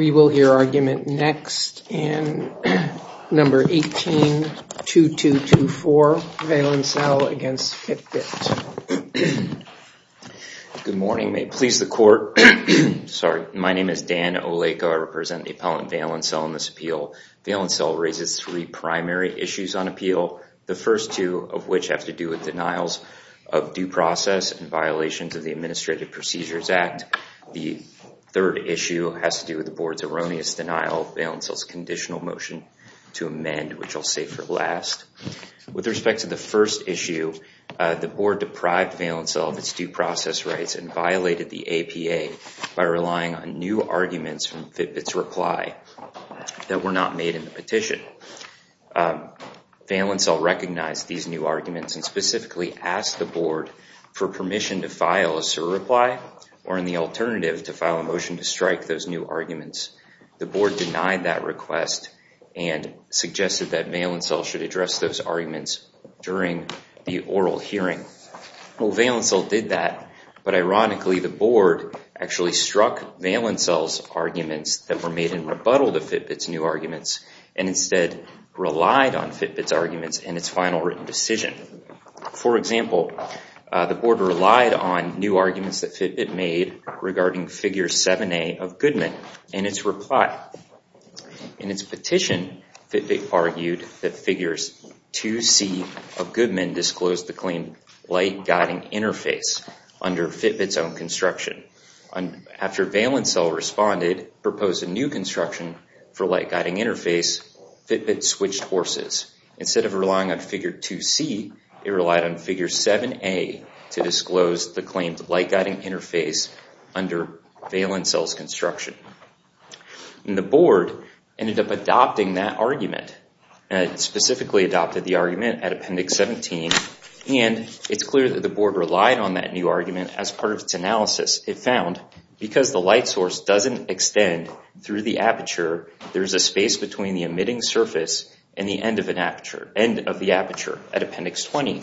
We will hear argument next in number 18-2224, Valencell against Fitbit. Good morning, may it please the court. Sorry, my name is Dan Oleko. I represent the appellant Valencell in this appeal. Valencell raises three primary issues on appeal, the first two of which have to do with denials of due process and the Administrative Procedures Act. The third issue has to do with the board's erroneous denial of Valencell's conditional motion to amend, which I'll say for last. With respect to the first issue, the board deprived Valencell of its due process rights and violated the APA by relying on new arguments from Fitbit's reply that were not made in the petition. Valencell recognized these new arguments in the alternative to file a motion to strike those new arguments. The board denied that request and suggested that Valencell should address those arguments during the oral hearing. Well, Valencell did that, but ironically the board actually struck Valencell's arguments that were made in rebuttal to Fitbit's new arguments and instead relied on Fitbit's arguments in its In its petition, Fitbit argued that figures 2C of Goodman disclosed the claim light guiding interface under Fitbit's own construction. After Valencell responded, proposed a new construction for light guiding interface, Fitbit switched horses. Instead of relying on figure 2C, it relied on figure 7A to provide the light guiding interface under Valencell's construction. And the board ended up adopting that argument. It specifically adopted the argument at Appendix 17, and it's clear that the board relied on that new argument as part of its analysis. It found because the light source doesn't extend through the aperture, there's a space between the emitting surface and the end of an aperture, end of the aperture, at Appendix 20.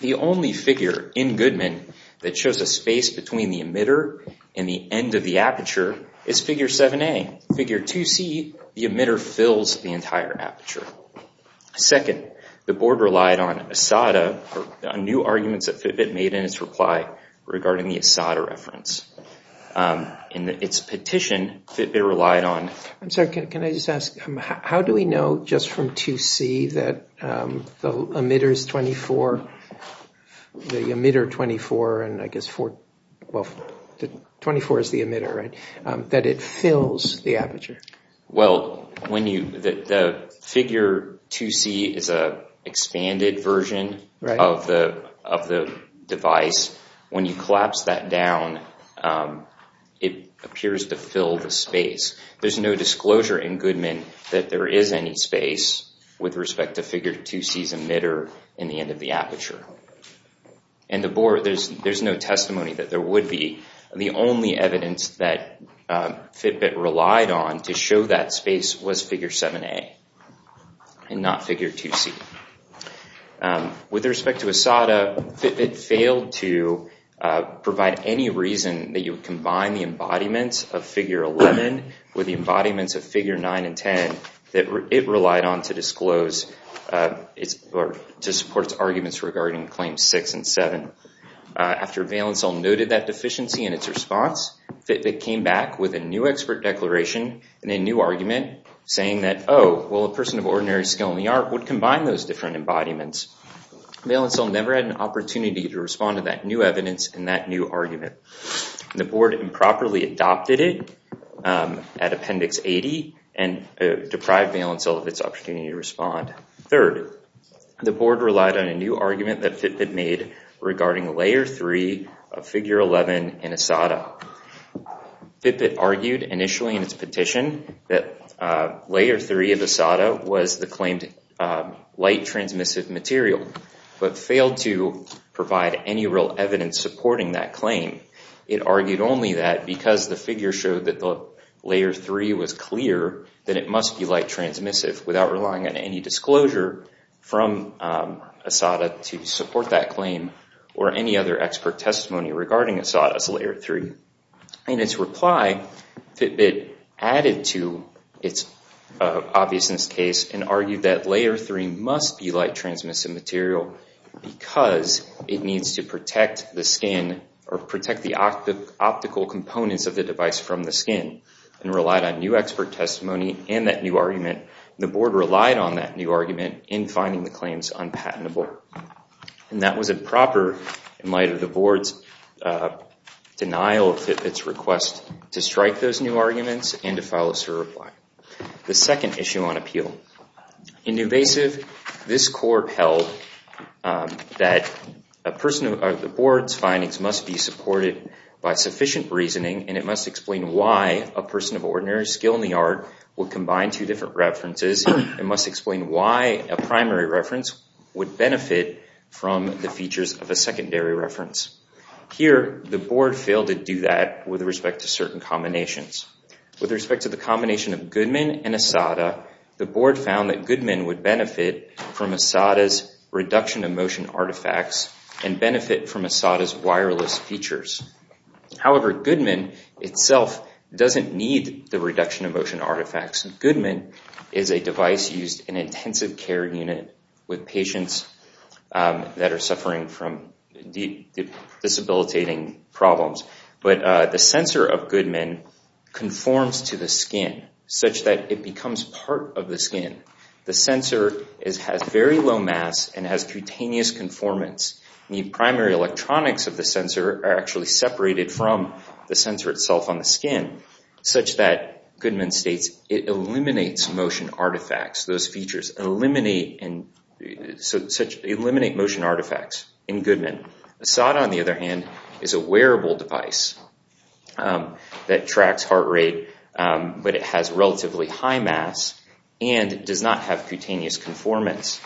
The only figure in Goodman that shows a space between the emitter and the end of the aperture is figure 7A. Figure 2C, the emitter fills the entire aperture. Second, the board relied on ASADA, new arguments that Fitbit made in its reply regarding the ASADA reference. In its petition, Fitbit relied on... I'm sorry, can I just ask, how do we know just from 2C that the emitter is 24, the emitter 24, and I guess 24 is the emitter, right, that it fills the aperture? Well, when you... the figure 2C is a expanded version of the device. When you collapse that down, it appears to me that there is any space with respect to figure 2C's emitter in the end of the aperture. And the board, there's no testimony that there would be. The only evidence that Fitbit relied on to show that space was figure 7A and not figure 2C. With respect to ASADA, Fitbit failed to provide any reason that you combine the it relied on to disclose or to support its arguments regarding claims 6 and 7. After Valencell noted that deficiency in its response, Fitbit came back with a new expert declaration and a new argument saying that, oh, well, a person of ordinary skill in the art would combine those different embodiments. Valencell never had an opportunity to respond to that new evidence in that new Valencell of its opportunity to respond. Third, the board relied on a new argument that Fitbit made regarding layer 3 of figure 11 in ASADA. Fitbit argued initially in its petition that layer 3 of ASADA was the claimed light transmissive material, but failed to provide any real evidence supporting that claim. It argued only that because the figure showed that the layer 3 was clear that it must be light transmissive without relying on any disclosure from ASADA to support that claim or any other expert testimony regarding ASADA's layer 3. In its reply, Fitbit added to its obviousness case and argued that layer 3 must be light transmissive material because it needs to protect the skin or protect the optical components of the device from the skin and relied on new expert testimony and that new argument. The board relied on that new argument in finding the claims unpatentable. And that was a proper, in light of the board's denial of Fitbit's request, to strike those new arguments and to follow its reply. The second issue on appeal. In Newvasive, this court held that a person of the board's findings must be supported by sufficient reasoning and it must explain why a person of ordinary skill in the art will combine two different references and must explain why a primary reference would benefit from the features of a secondary reference. Here, the board failed to do that with respect to certain combinations. With respect to the combination of Goodman and ASADA, the board found that Goodman would benefit from ASADA's reduction of motion artifacts and benefit from ASADA's wireless features. However, Goodman itself doesn't need the reduction of motion artifacts. Goodman is a device used in intensive care unit with patients that are suffering from deep disabilitating problems. But the sensor of Goodman conforms to the skin such that it becomes part of the skin. The sensor has very low mass and has cutaneous conformance. The primary electronics of the sensor are actually separated from the sensor itself on the skin, such that Goodman states it eliminates motion artifacts. Those features eliminate motion artifacts in Goodman. ASADA, on the other hand, is a wearable device that tracks heart rate, but it has relatively high mass and does not have cutaneous conformance.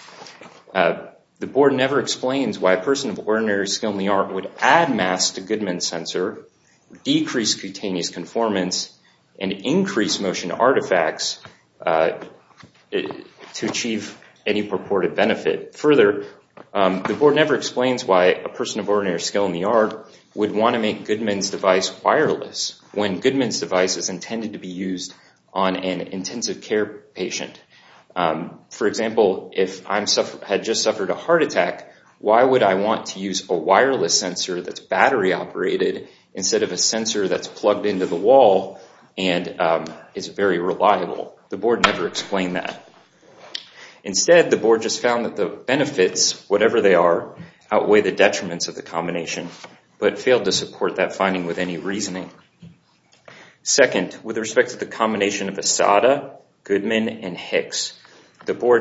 The board never explains why a person of ordinary skill in the art would add mass to Goodman's sensor, decrease cutaneous conformance, and increase motion artifacts to achieve any purported benefit. Further, the board never explains why a person of ordinary skill in the art would want to make Goodman's device wireless when Goodman's device is intended to be used on an example, if I had just suffered a heart attack, why would I want to use a wireless sensor that's battery-operated instead of a sensor that's plugged into the wall and is very reliable? The board never explained that. Instead, the board just found that the benefits, whatever they are, outweigh the detriments of the combination, but failed to support that finding with any reasoning. Second, with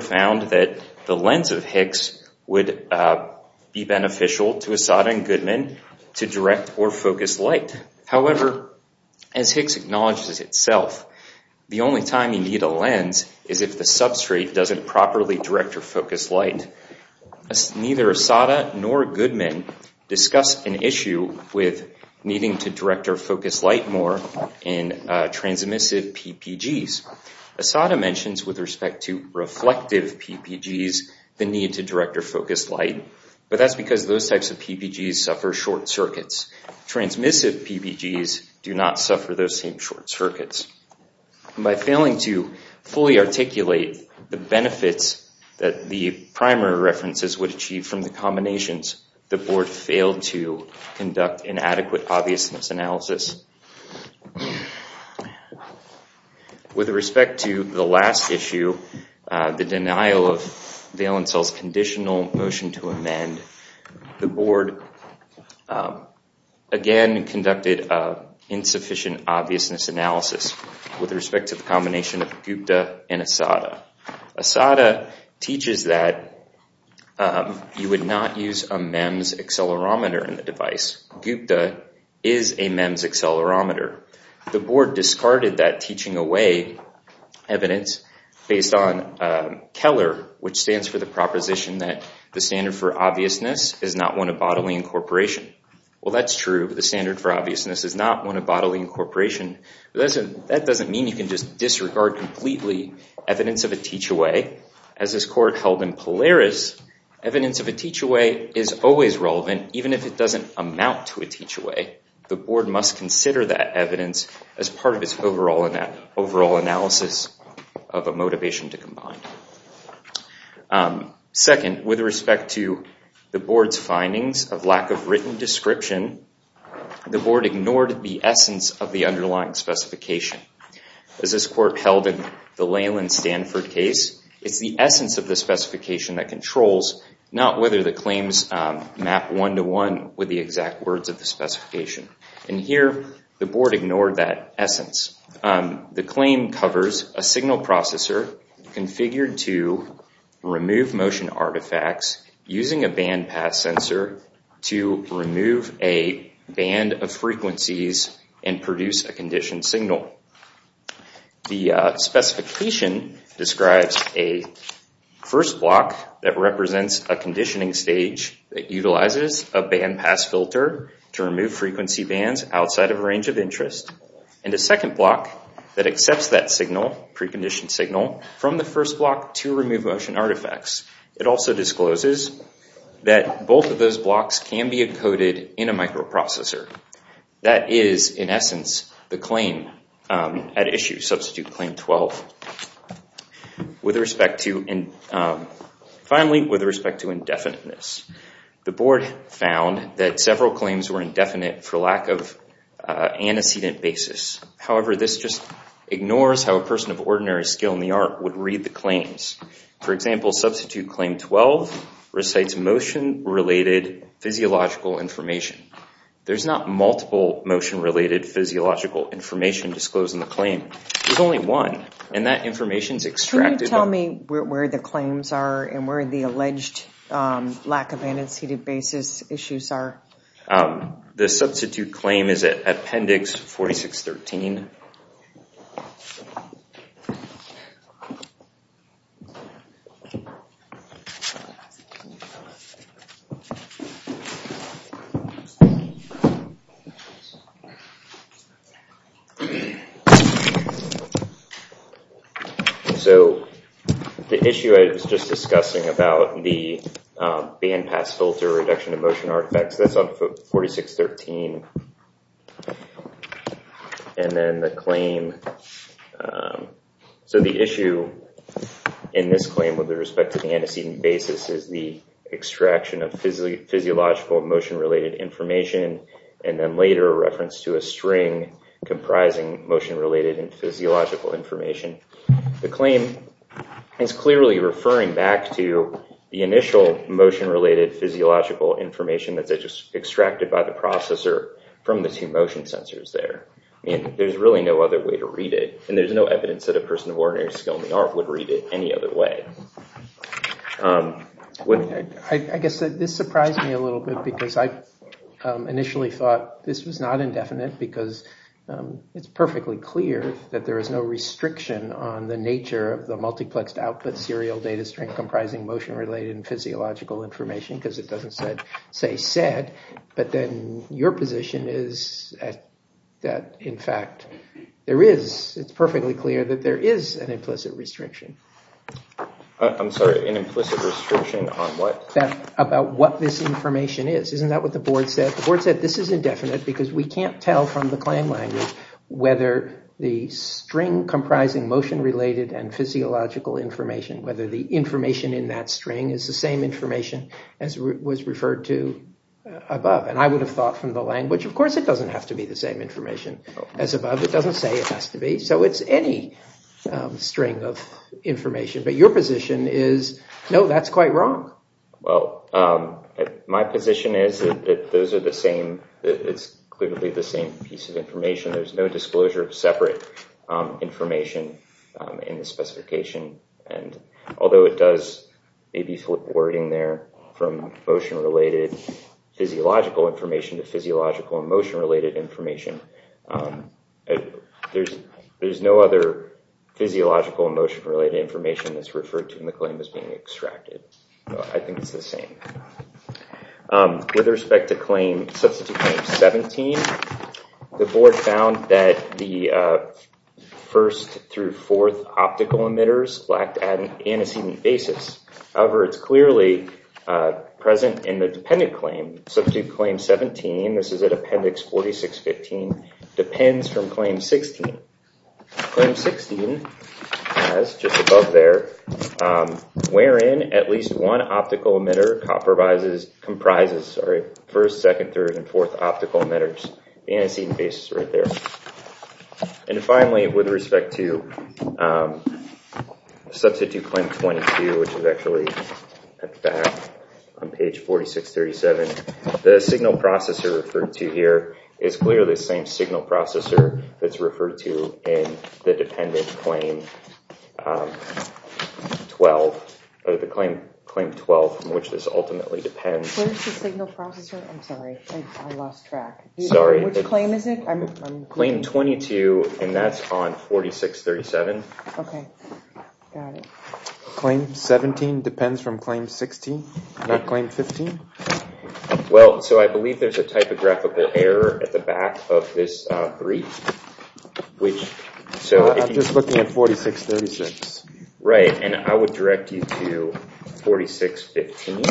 found that the lens of HICS would be beneficial to ASADA and Goodman to direct or focus light. However, as HICS acknowledges itself, the only time you need a lens is if the substrate doesn't properly direct or focus light. Neither ASADA nor Goodman discussed an issue with needing to direct or focus light more in transmissive PPGs. ASADA mentions with respect to reflective PPGs the need to direct or focus light, but that's because those types of PPGs suffer short circuits. Transmissive PPGs do not suffer those same short circuits. By failing to fully articulate the benefits that the primary references would achieve from the combinations, the board failed to conduct an adequate obviousness analysis. With respect to the last issue, the denial of valence cells conditional motion to amend, the board again conducted insufficient obviousness analysis with respect to the combination of GUPTA and ASADA. ASADA teaches that you would not use a MEMS accelerometer in the device. GUPTA is a MEMS accelerometer. The board discarded that teaching away evidence based on Keller, which stands for the proposition that the standard for obviousness is not one of bodily incorporation. Well, that's true, but the standard for obviousness is not one of bodily incorporation. That doesn't mean you can just As this court held in Polaris, evidence of a teach-away is always relevant, even if it doesn't amount to a teach-away. The board must consider that evidence as part of its overall analysis of a motivation to combine. Second, with respect to the board's findings of lack of written description, the board ignored the essence of the underlying specification. As this court held in the Layland Stanford case, it's the essence of the specification that controls, not whether the claims map one-to-one with the exact words of the specification. And here, the board ignored that essence. The claim covers a signal processor configured to remove motion artifacts using a bandpass sensor to remove a band of frequencies and produce a conditioned signal. The specification describes a first block that represents a conditioning stage that utilizes a bandpass filter to remove frequency bands outside of a range of interest, and a second block that accepts that signal, preconditioned signal, from the first block to remove motion artifacts. It also discloses that both of those blocks can be encoded in a microprocessor. That is, in essence, the claim at issue, Substitute Claim 12. Finally, with respect to indefiniteness, the board found that several claims were indefinite for lack of antecedent basis. However, this just ignores how a person of ordinary skill in the art would read the claims. For example, Substitute Claim 12 recites motion-related physiological information. There's not multiple motion-related physiological information disclosed in the claim. There's only one, and that information is extracted... Can you tell me where the claims are and where the alleged lack of antecedent basis issues are? The Substitute Claim is at Appendix 4613. So the issue I was just discussing about the bandpass filter reduction of motion artifacts, that's on 4613. And then the claim... So the issue in this claim with respect to the antecedent basis is the extraction of physiological motion-related information, and then later a reference to a string comprising motion-related and physiological information. The claim is clearly referring back to the initial motion-related physiological information that's extracted by the processor from the two motion sensors there. I mean, there's really no other way to read it, and there's no evidence that a person of ordinary skill in the art would read it any other way. I guess this surprised me a little bit, because I initially thought this was not indefinite, because it's perfectly clear that there is no restriction on the nature of the multiplexed output serial data string comprising motion-related and physiological information, because it doesn't say said, but then your position is that, in fact, it's perfectly clear that there is an I'm sorry, an implicit restriction on what? About what this information is. Isn't that what the board said? The board said this is indefinite, because we can't tell from the claim language whether the string comprising motion-related and physiological information, whether the information in that string is the same information as was referred to above. And I would have thought from the language, of course it doesn't have to be the same information as above. It doesn't say it information, but your position is, no, that's quite wrong. Well, my position is that those are the same. It's clearly the same piece of information. There's no disclosure of separate information in the specification, and although it does maybe flip wording there from motion-related physiological information to physiological and motion-related information, there's no other physiological emotion-related information that's referred to in the claim as being extracted. I think it's the same. With respect to claim, substitute claim 17, the board found that the first through fourth optical emitters lacked antecedent basis. However, it's clearly present in the dependent claim. Substitute claim 17, this is at appendix 4615, depends from claim 16. Claim 16 has, just above there, wherein at least one optical emitter comprises first, second, third, and fourth optical emitters. Antecedent basis right there. And finally, with respect to substitute claim 22, which is actually at the back on page 4637, the signal processor referred to here is clearly the same signal processor that's referred to in the dependent claim 12, or the claim claim 12, from which this ultimately depends. Where's the signal processor? I'm sorry, I lost track. Sorry. Which claim is it? Claim 22, and that's on 4637. Okay, got it. Claim 17 depends from claim 16, not claim 15? Well, so I believe there's a typographical error at the back of this brief. I'm just looking at 4636. Right, and I would direct you to 4615.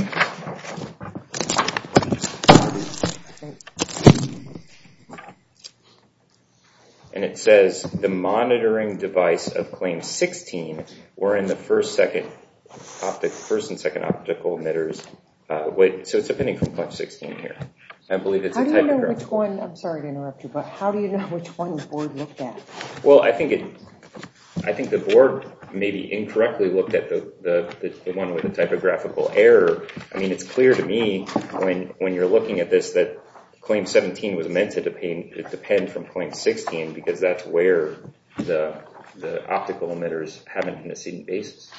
And it says, the monitoring device of claim 16, wherein the first and second optical emitters So it's depending from claim 16 here. I believe it's a typographical error. I'm sorry to interrupt you, but how do you know which one the board looked at? Well, I think the board maybe incorrectly looked at the one with the typographical error. I mean, it's clear to me when you're looking at this that claim 17 was meant to depend from claim 16, because that's where the optical emitters have an antecedent basis.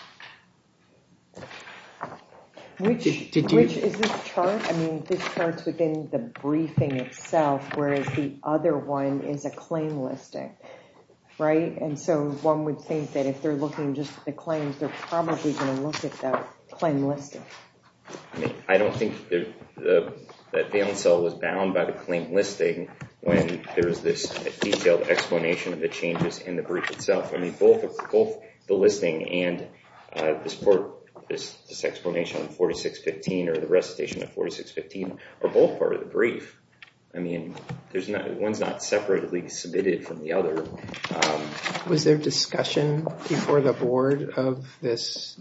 Which is this chart? I mean, this chart's within the briefing itself, whereas the other one is a claim listing. Right? And so one would think that if they're looking just at the claims, they're probably going to look at that claim listing. I mean, I don't think the valence cell was bound by the claim listing when there was this detailed explanation of the changes in the brief itself. I mean, both the listing and this explanation on 4615 or the recitation of 4615 are both part of the brief. I mean, one's not separately submitted from the other. Was there discussion before the board of this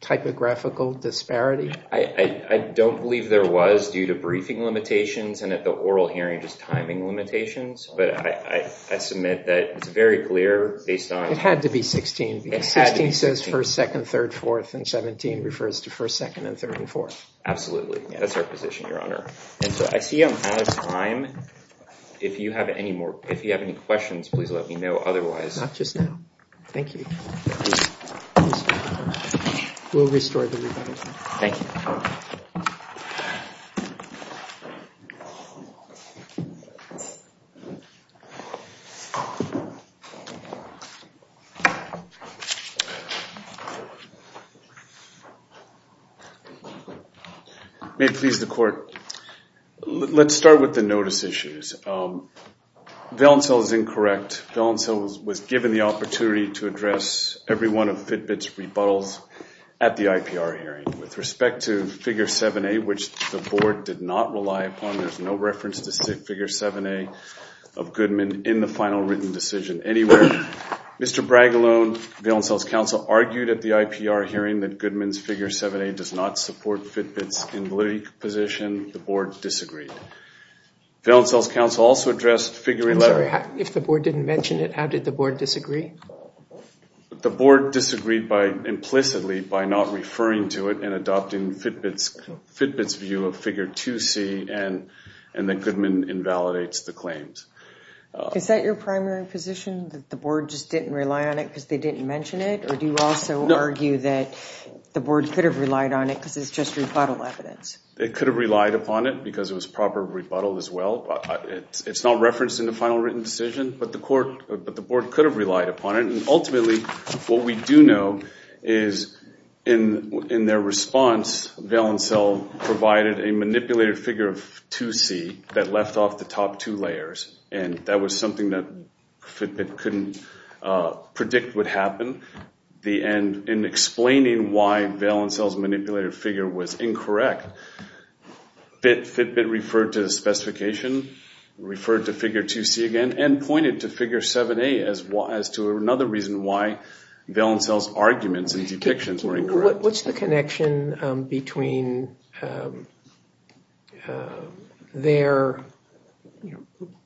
typographical disparity? I don't believe there was due to briefing limitations and at the oral hearing just timing limitations. But I submit that it's very clear based on... It had to be 16. It had to be 16. Because 16 says first, second, third, fourth, and 17 refers to first, second, and third, and fourth. Absolutely. That's our position, Your Honor. And so I see I'm out of time. If you have any questions, please let me know. Otherwise... Not just now. Thank you. We'll restore the rebuttal. Thank you. May it please the court. Let's start with the notice issues. Valencell is incorrect. Valencell was given the opportunity to address every one of Fitbit's rebuttals at the IPR hearing. With respect to figure 7A, which the board did not rely upon, there's no reference to figure 7A of Goodman in the final written decision anywhere. Mr. Bragg alone, Valencell's counsel, argued at the IPR hearing that Goodman's figure 7A does not support Fitbit's invalidity position. The board disagreed. Valencell's counsel also addressed figure 11. I'm sorry. If the board didn't mention it, how did the board disagree? The board disagreed implicitly by not referring to it and adopting Fitbit's view of figure 2C and that Goodman invalidates the claims. Is that your primary position? That the board just didn't rely on it because they didn't mention it? Or do you also argue that the board could have relied on it because it's just rebuttal evidence? It could have relied upon it because it was proper rebuttal as well. It's not referenced in the final written decision, but the board could have relied upon it. Ultimately, what we do know is in their response, Valencell provided a manipulated figure of 2C that left off the top two layers. That was something that Fitbit couldn't predict would happen. In explaining why Valencell's manipulated figure was incorrect, Fitbit referred to the reason why Valencell's arguments and detections were incorrect. What's the connection between their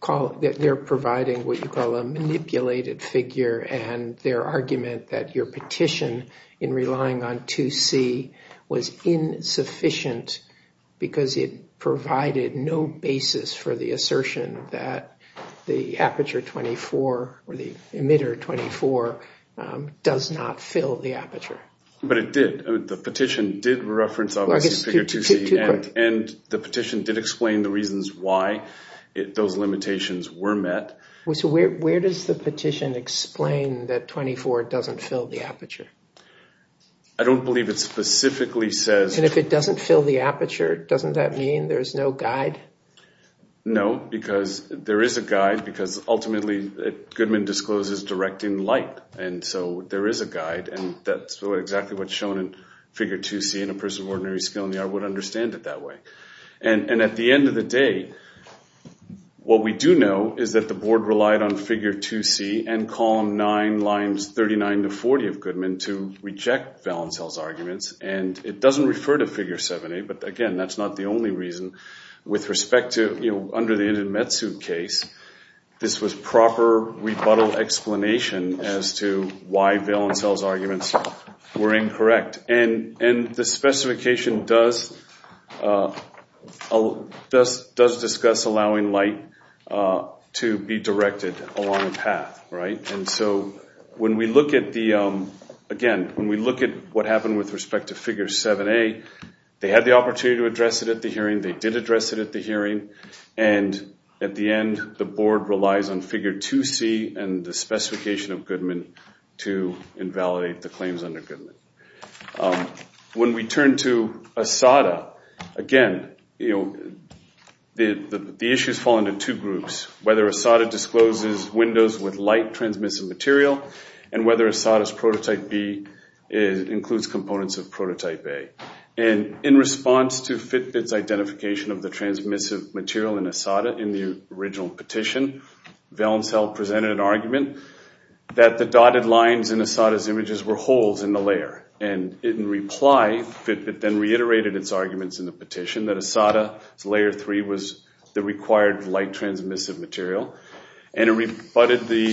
providing what you call a manipulated figure and their argument that your petition in relying on 2C was insufficient because it provided no evidence that 24 does not fill the aperture? But it did. The petition did reference 2C and the petition did explain the reasons why those limitations were met. Where does the petition explain that 24 doesn't fill the aperture? I don't believe it specifically says... And if it doesn't fill the aperture, doesn't that mean there's no guide? No, because there is a guide because ultimately Goodman discloses direct in light. So there is a guide and that's exactly what's shown in figure 2C and a person of ordinary skill in the art would understand it that way. At the end of the day, what we do know is that the board relied on figure 2C and column 9, lines 39 to 40 of Goodman to reject Valencell's arguments. And it doesn't refer to figure 7A, but again, that's not the only reason. With respect to, you know, under the Inumetsu case, this was proper rebuttal explanation as to why Valencell's arguments were incorrect. And the specification does discuss allowing light to be directed along a path, right? And so when we look at the, again, when we look at what happened with respect to figure 7A, they had the opportunity to address it at the hearing, they did address it at the hearing, and at the end the board relies on figure 2C and the specification of Goodman to invalidate the claims under Goodman. When we turn to ASADA, again, you know, the issues fall into two groups. Whether ASADA discloses windows with light transmissive material, and whether ASADA's prototype B includes components of prototype A. And in response to Fitbit's identification of the transmissive material in ASADA in the original petition, Valencell presented an argument that the dotted lines in ASADA's images were holes in the layer. And in reply, Fitbit then reiterated its arguments in the petition that ASADA's layer 3 was the required light transmissive material. And it rebutted the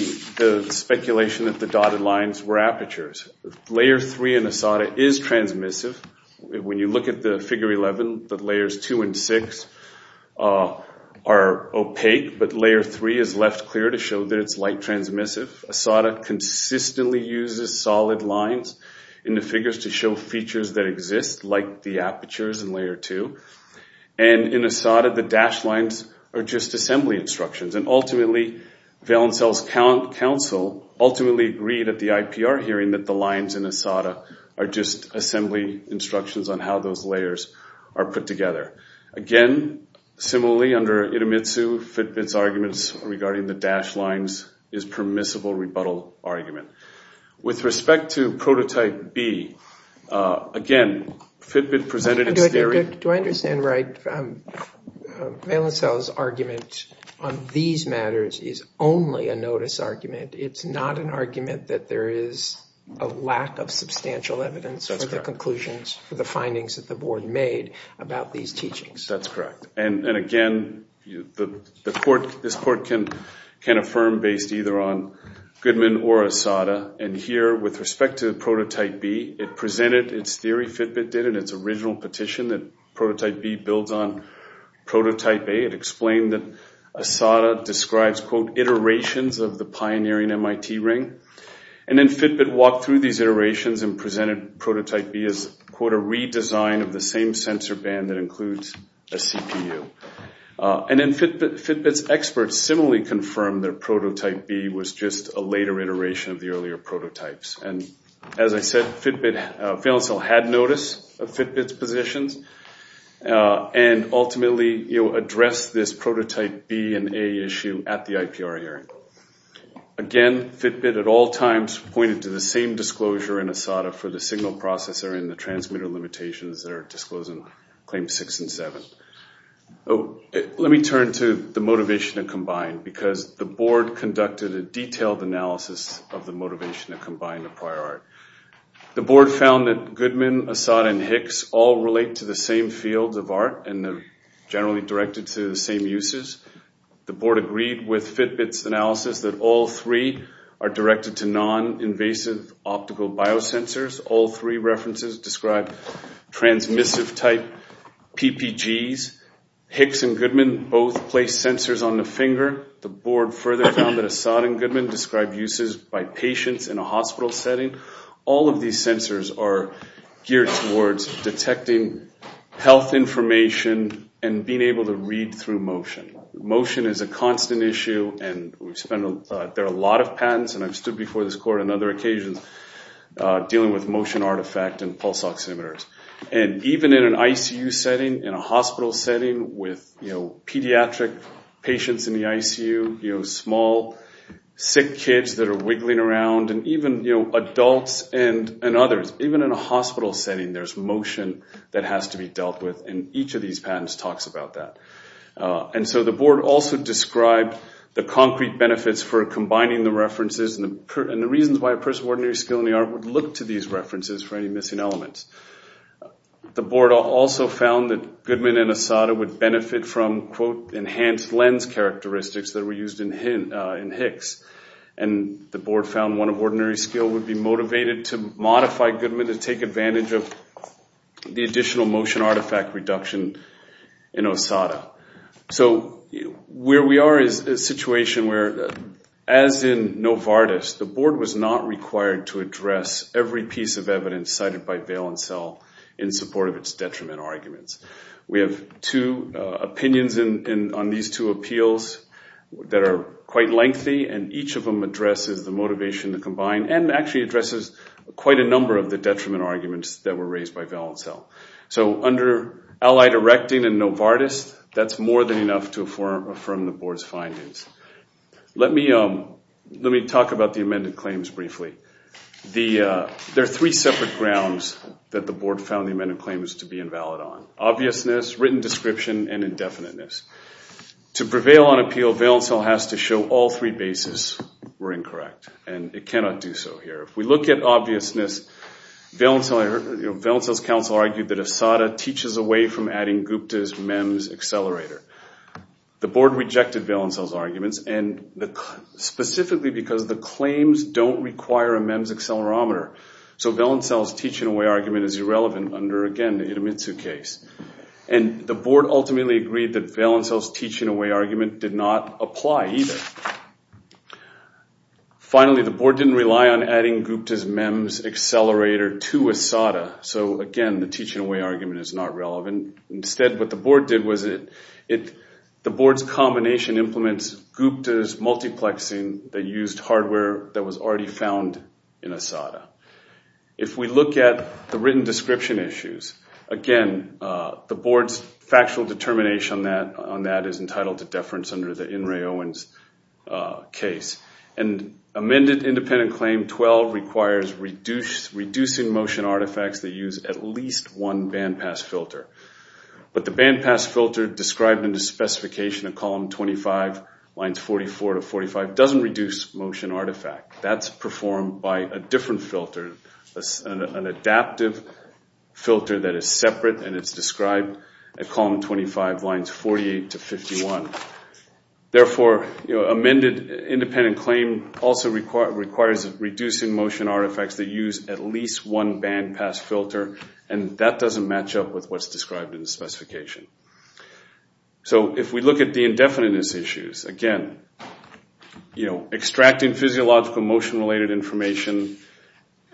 speculation that the dotted lines were apertures. Layer 3 in ASADA is transmissive. When you look at the figure 11, the layers 2 and 6 are opaque, but layer 3 is left clear to show that it's light transmissive. ASADA consistently uses solid lines in the figures to show features that exist, like the apertures in layer 2. And in ASADA, the dashed lines are just assembly instructions. And ultimately, Valencell's counsel ultimately agreed at the IPR hearing that the lines in ASADA are just assembly instructions on how those layers are put together. Again, similarly, under Itamitsu, Fitbit's arguments regarding the dashed lines is a permissible rebuttal argument. With respect to prototype B, again, Fitbit presented its theory. Do I understand right, Valencell's argument on these matters is only a notice argument. It's not an argument that there is a lack of substantial evidence for the conclusions, for the findings that the board made about these teachings. That's correct. And again, this court can affirm based either on Goodman or ASADA. And here, with respect to prototype B, it presented its theory, Fitbit did, in its original petition, that prototype B builds on prototype A. It explained that ASADA describes, quote, iterations of the pioneering MIT ring. And then Fitbit walked through these iterations and presented prototype B as, quote, a redesign of the same sensor band that includes a CPU. And then Fitbit's experts similarly confirmed that prototype B was just a later iteration of the earlier prototypes. And as I said, Fitbit, Valencell had notice of Fitbit's positions, and ultimately addressed this prototype B and A issue at the IPR hearing. Again, Fitbit, at all times, pointed to the same disclosure in ASADA for the signal processor and the transmitter limitations that are disclosed in Claims 6 and 7. Let me turn to the motivation to combine, because the board conducted a detailed analysis of the motivation to combine the prior art. The board found that Goodman, ASADA, and Hicks all relate to the same fields of art, and they're generally directed to the same uses. The board agreed with Fitbit's analysis that all three are directed to non-invasive optical biosensors. All three references describe transmissive-type PPGs. Hicks and Goodman both placed sensors on the finger. The board further found that ASADA and Goodman described uses by patients in a hospital setting. All of these sensors are geared towards detecting health information and being able to read through motion. Motion is a constant issue, and there are a lot of patents, and I've stood before this court on other occasions, dealing with motion artifact and pulse oximeters. And even in an ICU setting, in a hospital setting, with pediatric patients in the ICU, small, sick kids that are wiggling around, and even adults and others, even in a hospital setting, there's motion that has to be dealt with, and each of these patents talks about that. And so the board also described the concrete benefits for combining the references and the reasons why a person with ordinary skill in the art would look to these references for any missing elements. The board also found that Goodman and ASADA would benefit from, quote, increased lens characteristics that were used in Hicks. And the board found one of ordinary skill would be motivated to modify Goodman to take advantage of the additional motion artifact reduction in ASADA. So where we are is a situation where, as in Novartis, the board was not required to address every piece of evidence cited by Vail and Sell in support of its detriment arguments. We have two opinions on these two appeals that are quite lengthy, and each of them addresses the motivation to combine and actually addresses quite a number of the detriment arguments that were raised by Vail and Sell. So under allied erecting and Novartis, that's more than enough to affirm the board's findings. Let me talk about the amended claims briefly. There are three separate grounds that the board found the amended claims to be invalid on, obviousness, written description, and indefiniteness. To prevail on appeal, Vail and Sell has to show all three bases were incorrect, and it cannot do so here. If we look at obviousness, Vail and Sell's counsel argued that ASADA teaches away from adding Gupta's MEMS accelerator. The board rejected Vail and Sell's arguments, specifically because the claims don't require a MEMS accelerometer. So Vail and Sell's teaching away argument is irrelevant under, again, the Itamitsu case. The board ultimately agreed that Vail and Sell's teaching away argument did not apply either. Finally, the board didn't rely on adding Gupta's MEMS accelerator to ASADA, so again, the teaching away argument is not relevant. Instead, what the board did was the board's combination implements Gupta's multiplexing that used hardware that was already found in ASADA. If we look at the written description issues, again, the board's factual determination on that is entitled to deference under the In re Owens case. And amended independent claim 12 requires reducing motion artifacts that use at least one bandpass filter. But the bandpass filter described in the specification of column 25, lines 44 to 45, doesn't reduce motion artifact. That's performed by a different filter, an adaptive filter that is separate, and it's described at column 25, lines 48 to 51. Therefore, amended independent claim also requires reducing motion artifacts that use at least one bandpass filter, and that doesn't match up with what's described in the specification. So if we look at the indefiniteness issues, again, extracting physiological motion-related information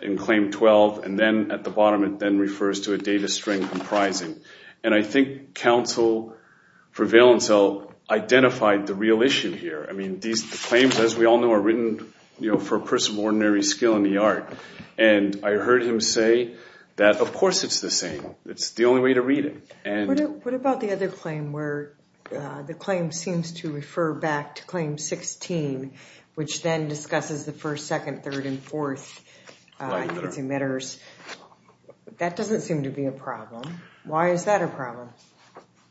in claim 12, and then at the bottom it then refers to a data string comprising. And I think counsel for Valenzuela identified the real issue here. These claims, as we all know, are written for a person of ordinary skill in the art. And I heard him say that, of course it's the same. It's the only way to read it. What about the other claim where the claim seems to refer back to 16, which then discusses the first, second, third, and fourth emitters? That doesn't seem to be a problem. Why is that a problem?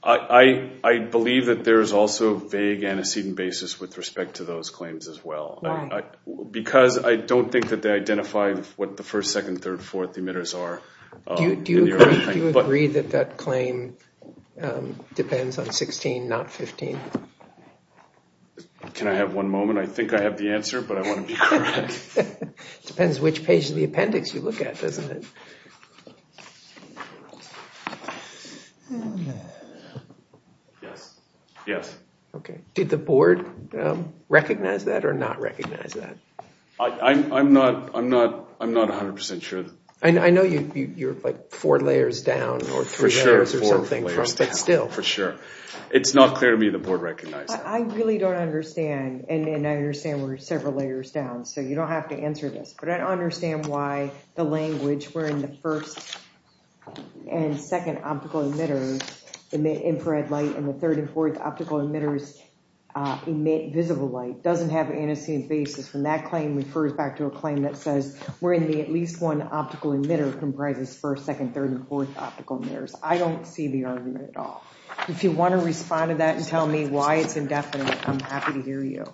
I believe that there is also a vague antecedent basis with respect to those claims as well. Why? Because I don't think that they identify what the first, second, third, fourth emitters are. Do you agree that that claim depends on 16, not 15? Can I have one moment? I think I have the answer, but I want to be correct. It depends which page of the appendix you look at, doesn't it? Yes. Yes. Okay. Did the board recognize that or not recognize that? I'm not 100% sure. I know you're like four layers down or three layers or something, but still. For sure. It's not clear to me the board recognized. I really don't understand, and I understand we're several layers down, so you don't have to answer this, but I don't understand why the language wherein the first and second optical emitters emit infrared light and the third and fourth optical emitters emit visible light doesn't have an antecedent basis. When that claim refers back to a claim that says we're in the at least one optical emitter comprises first, second, third, and fourth optical emitters. I don't see the argument at all. If you want to respond to that and tell me why it's indefinite, I'm happy to hear you.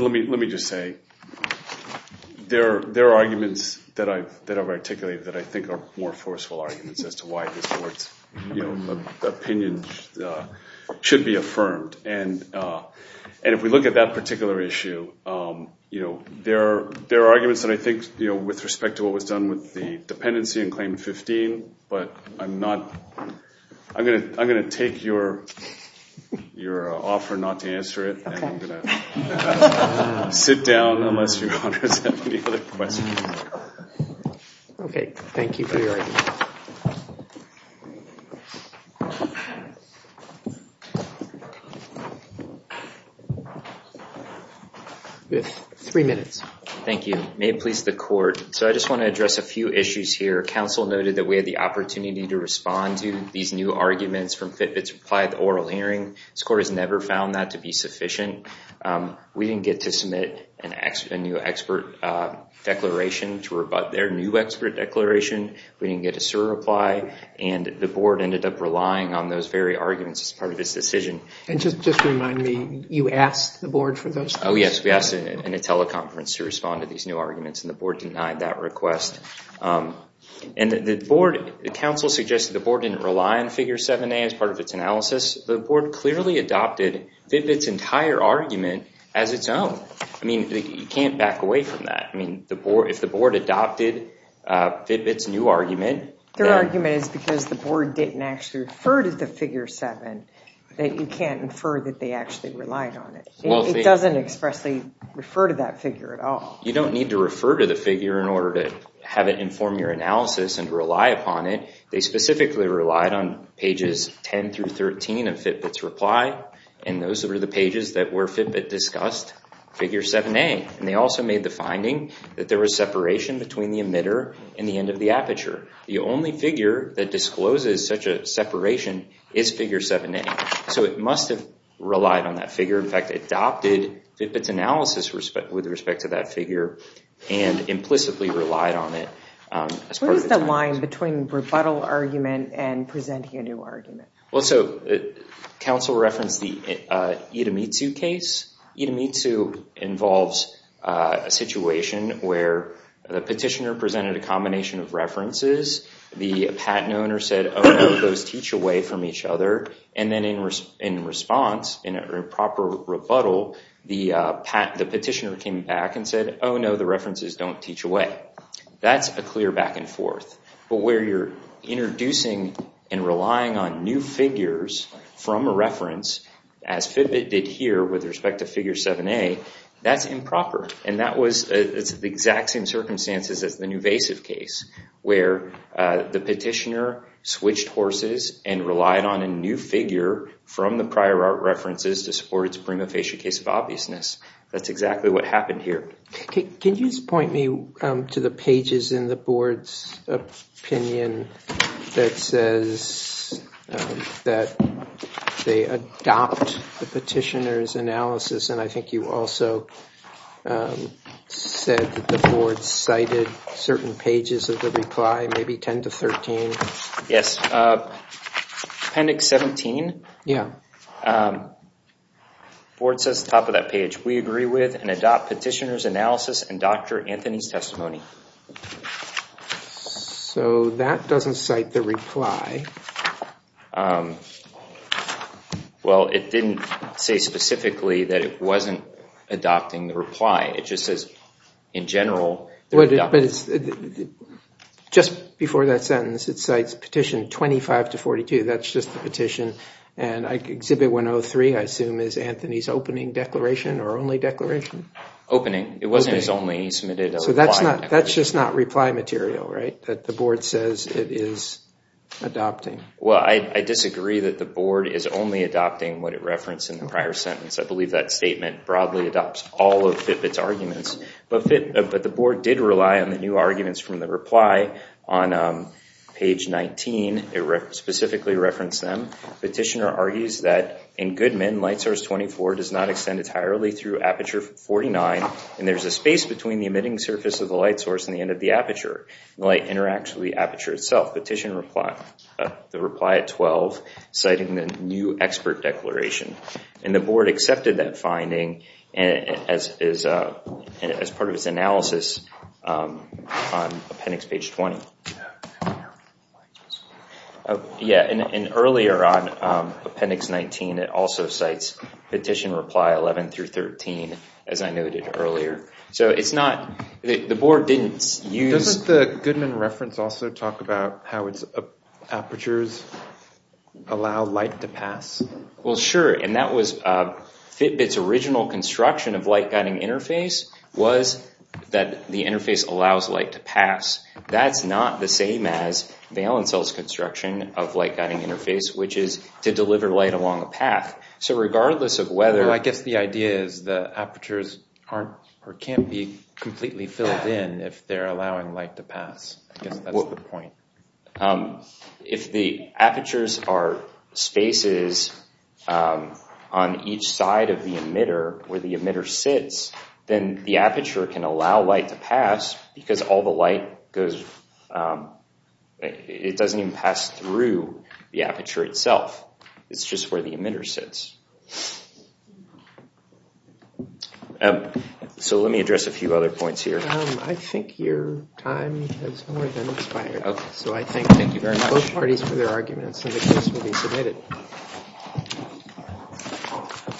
Let me just say, there are arguments that I've articulated that I think are more forceful arguments as to why this board's opinion should be affirmed. If we look at that particular issue, there are arguments that I think with respect to what was done with the dependency and claim 15, but I'm going to take your offer not to answer it. I'm going to sit down unless you have any other questions. Okay. Thank you for your argument. Three minutes. Thank you. May it please the court. I just want to address a few issues here. Council noted that we had the opportunity to respond to these new arguments from Fitbit's reply to the oral hearing. This court has never found that to be sufficient. We didn't get to submit a new expert declaration to rebut their new expert declaration. We didn't get a SIR reply and the board ended up relying on those very arguments as part of this decision. Just remind me, you asked the board for those? Oh, yes. We asked in a teleconference to respond to these new arguments and the board denied that request. The council suggested the board didn't rely on Figure 7a as part of its analysis. The board clearly adopted Fitbit's entire argument as its own. You can't back away from that. If the board adopted Fitbit's new argument- Their argument is because the board didn't actually refer to Figure 7 that you can't infer that they actually relied on it. It doesn't expressly refer to that figure at all. You don't need to refer to the figure in order to have it inform your analysis and rely upon it. They specifically relied on pages 10 through 13 of Fitbit's reply and those were the pages where Fitbit discussed Figure 7a. They also made the finding that there was separation between the emitter and the end of the aperture. The only figure that discloses such a separation is Figure 7a. So it must have relied on that figure. In fact, it adopted Fitbit's analysis with respect to that figure and implicitly relied on it. What is the line between rebuttal argument and presenting a new argument? Well, so council referenced the Itamitsu case. Itamitsu involves a situation where the petitioner presented a reference, the patent owner said, oh no, those teach away from each other. And then in response, in a proper rebuttal, the petitioner came back and said, oh no, the references don't teach away. That's a clear back and forth. But where you're introducing and relying on new figures from a reference, as Fitbit did here with respect to Figure 7a, that's improper. It's the exact same circumstances as the Nuvasiv case, where the petitioner switched horses and relied on a new figure from the prior art references to support its prima facie case of obviousness. That's exactly what happened here. Can you just point me to the pages in the board's opinion that says that they adopt the petitioner's analysis? And I think you also said that the board cited certain pages of the reply, maybe 10 to 13. Yes. Appendix 17. Yeah. The board says at the top of that page, we agree with and adopt petitioner's analysis and Dr. Anthony's testimony. So that doesn't cite the reply. Well, it didn't say specifically that it wasn't adopting the reply. It just says, in general, that it adopted it. Just before that sentence, it cites petition 25 to 42. That's just the petition. And exhibit 103, I assume, is Anthony's opening declaration or only declaration? Opening. It wasn't his only. He submitted a reply. So that's just not reply material, right? That the board says it is adopting the reply. Well, I disagree that the board is only adopting what it referenced in the prior sentence. I believe that statement broadly adopts all of Fitbit's arguments. But the board did rely on the new arguments from the reply on page 19. It specifically referenced them. Petitioner argues that in Goodman, light source 24 does not extend entirely through aperture 49, and there's a space between the emitting surface of the light source and the end of the aperture. Light interacts with the aperture itself. Petition reply at 12, citing the new expert declaration. And the board accepted that finding as part of its analysis on appendix page 20. And earlier on, appendix 19, it also cites petition reply 11 through 13, as I noted earlier. So it's not, the board didn't use- Doesn't the Goodman reference also talk about how it's apertures allow light to pass? Well, sure. And that was Fitbit's original construction of light guiding interface was that the interface allows light to pass. That's not the same as the Allen-Sells construction of light guiding interface, which is to deliver light along a path. So regardless of whether- Can't be completely filled in if they're allowing light to pass. I guess that's the point. If the apertures are spaces on each side of the emitter where the emitter sits, then the aperture can allow light to pass because all the light goes- It doesn't even pass through the aperture itself. It's just where the emitter sits. So let me address a few other points here. I think your time has more than expired. So I thank both parties for their arguments, and the case will be submitted.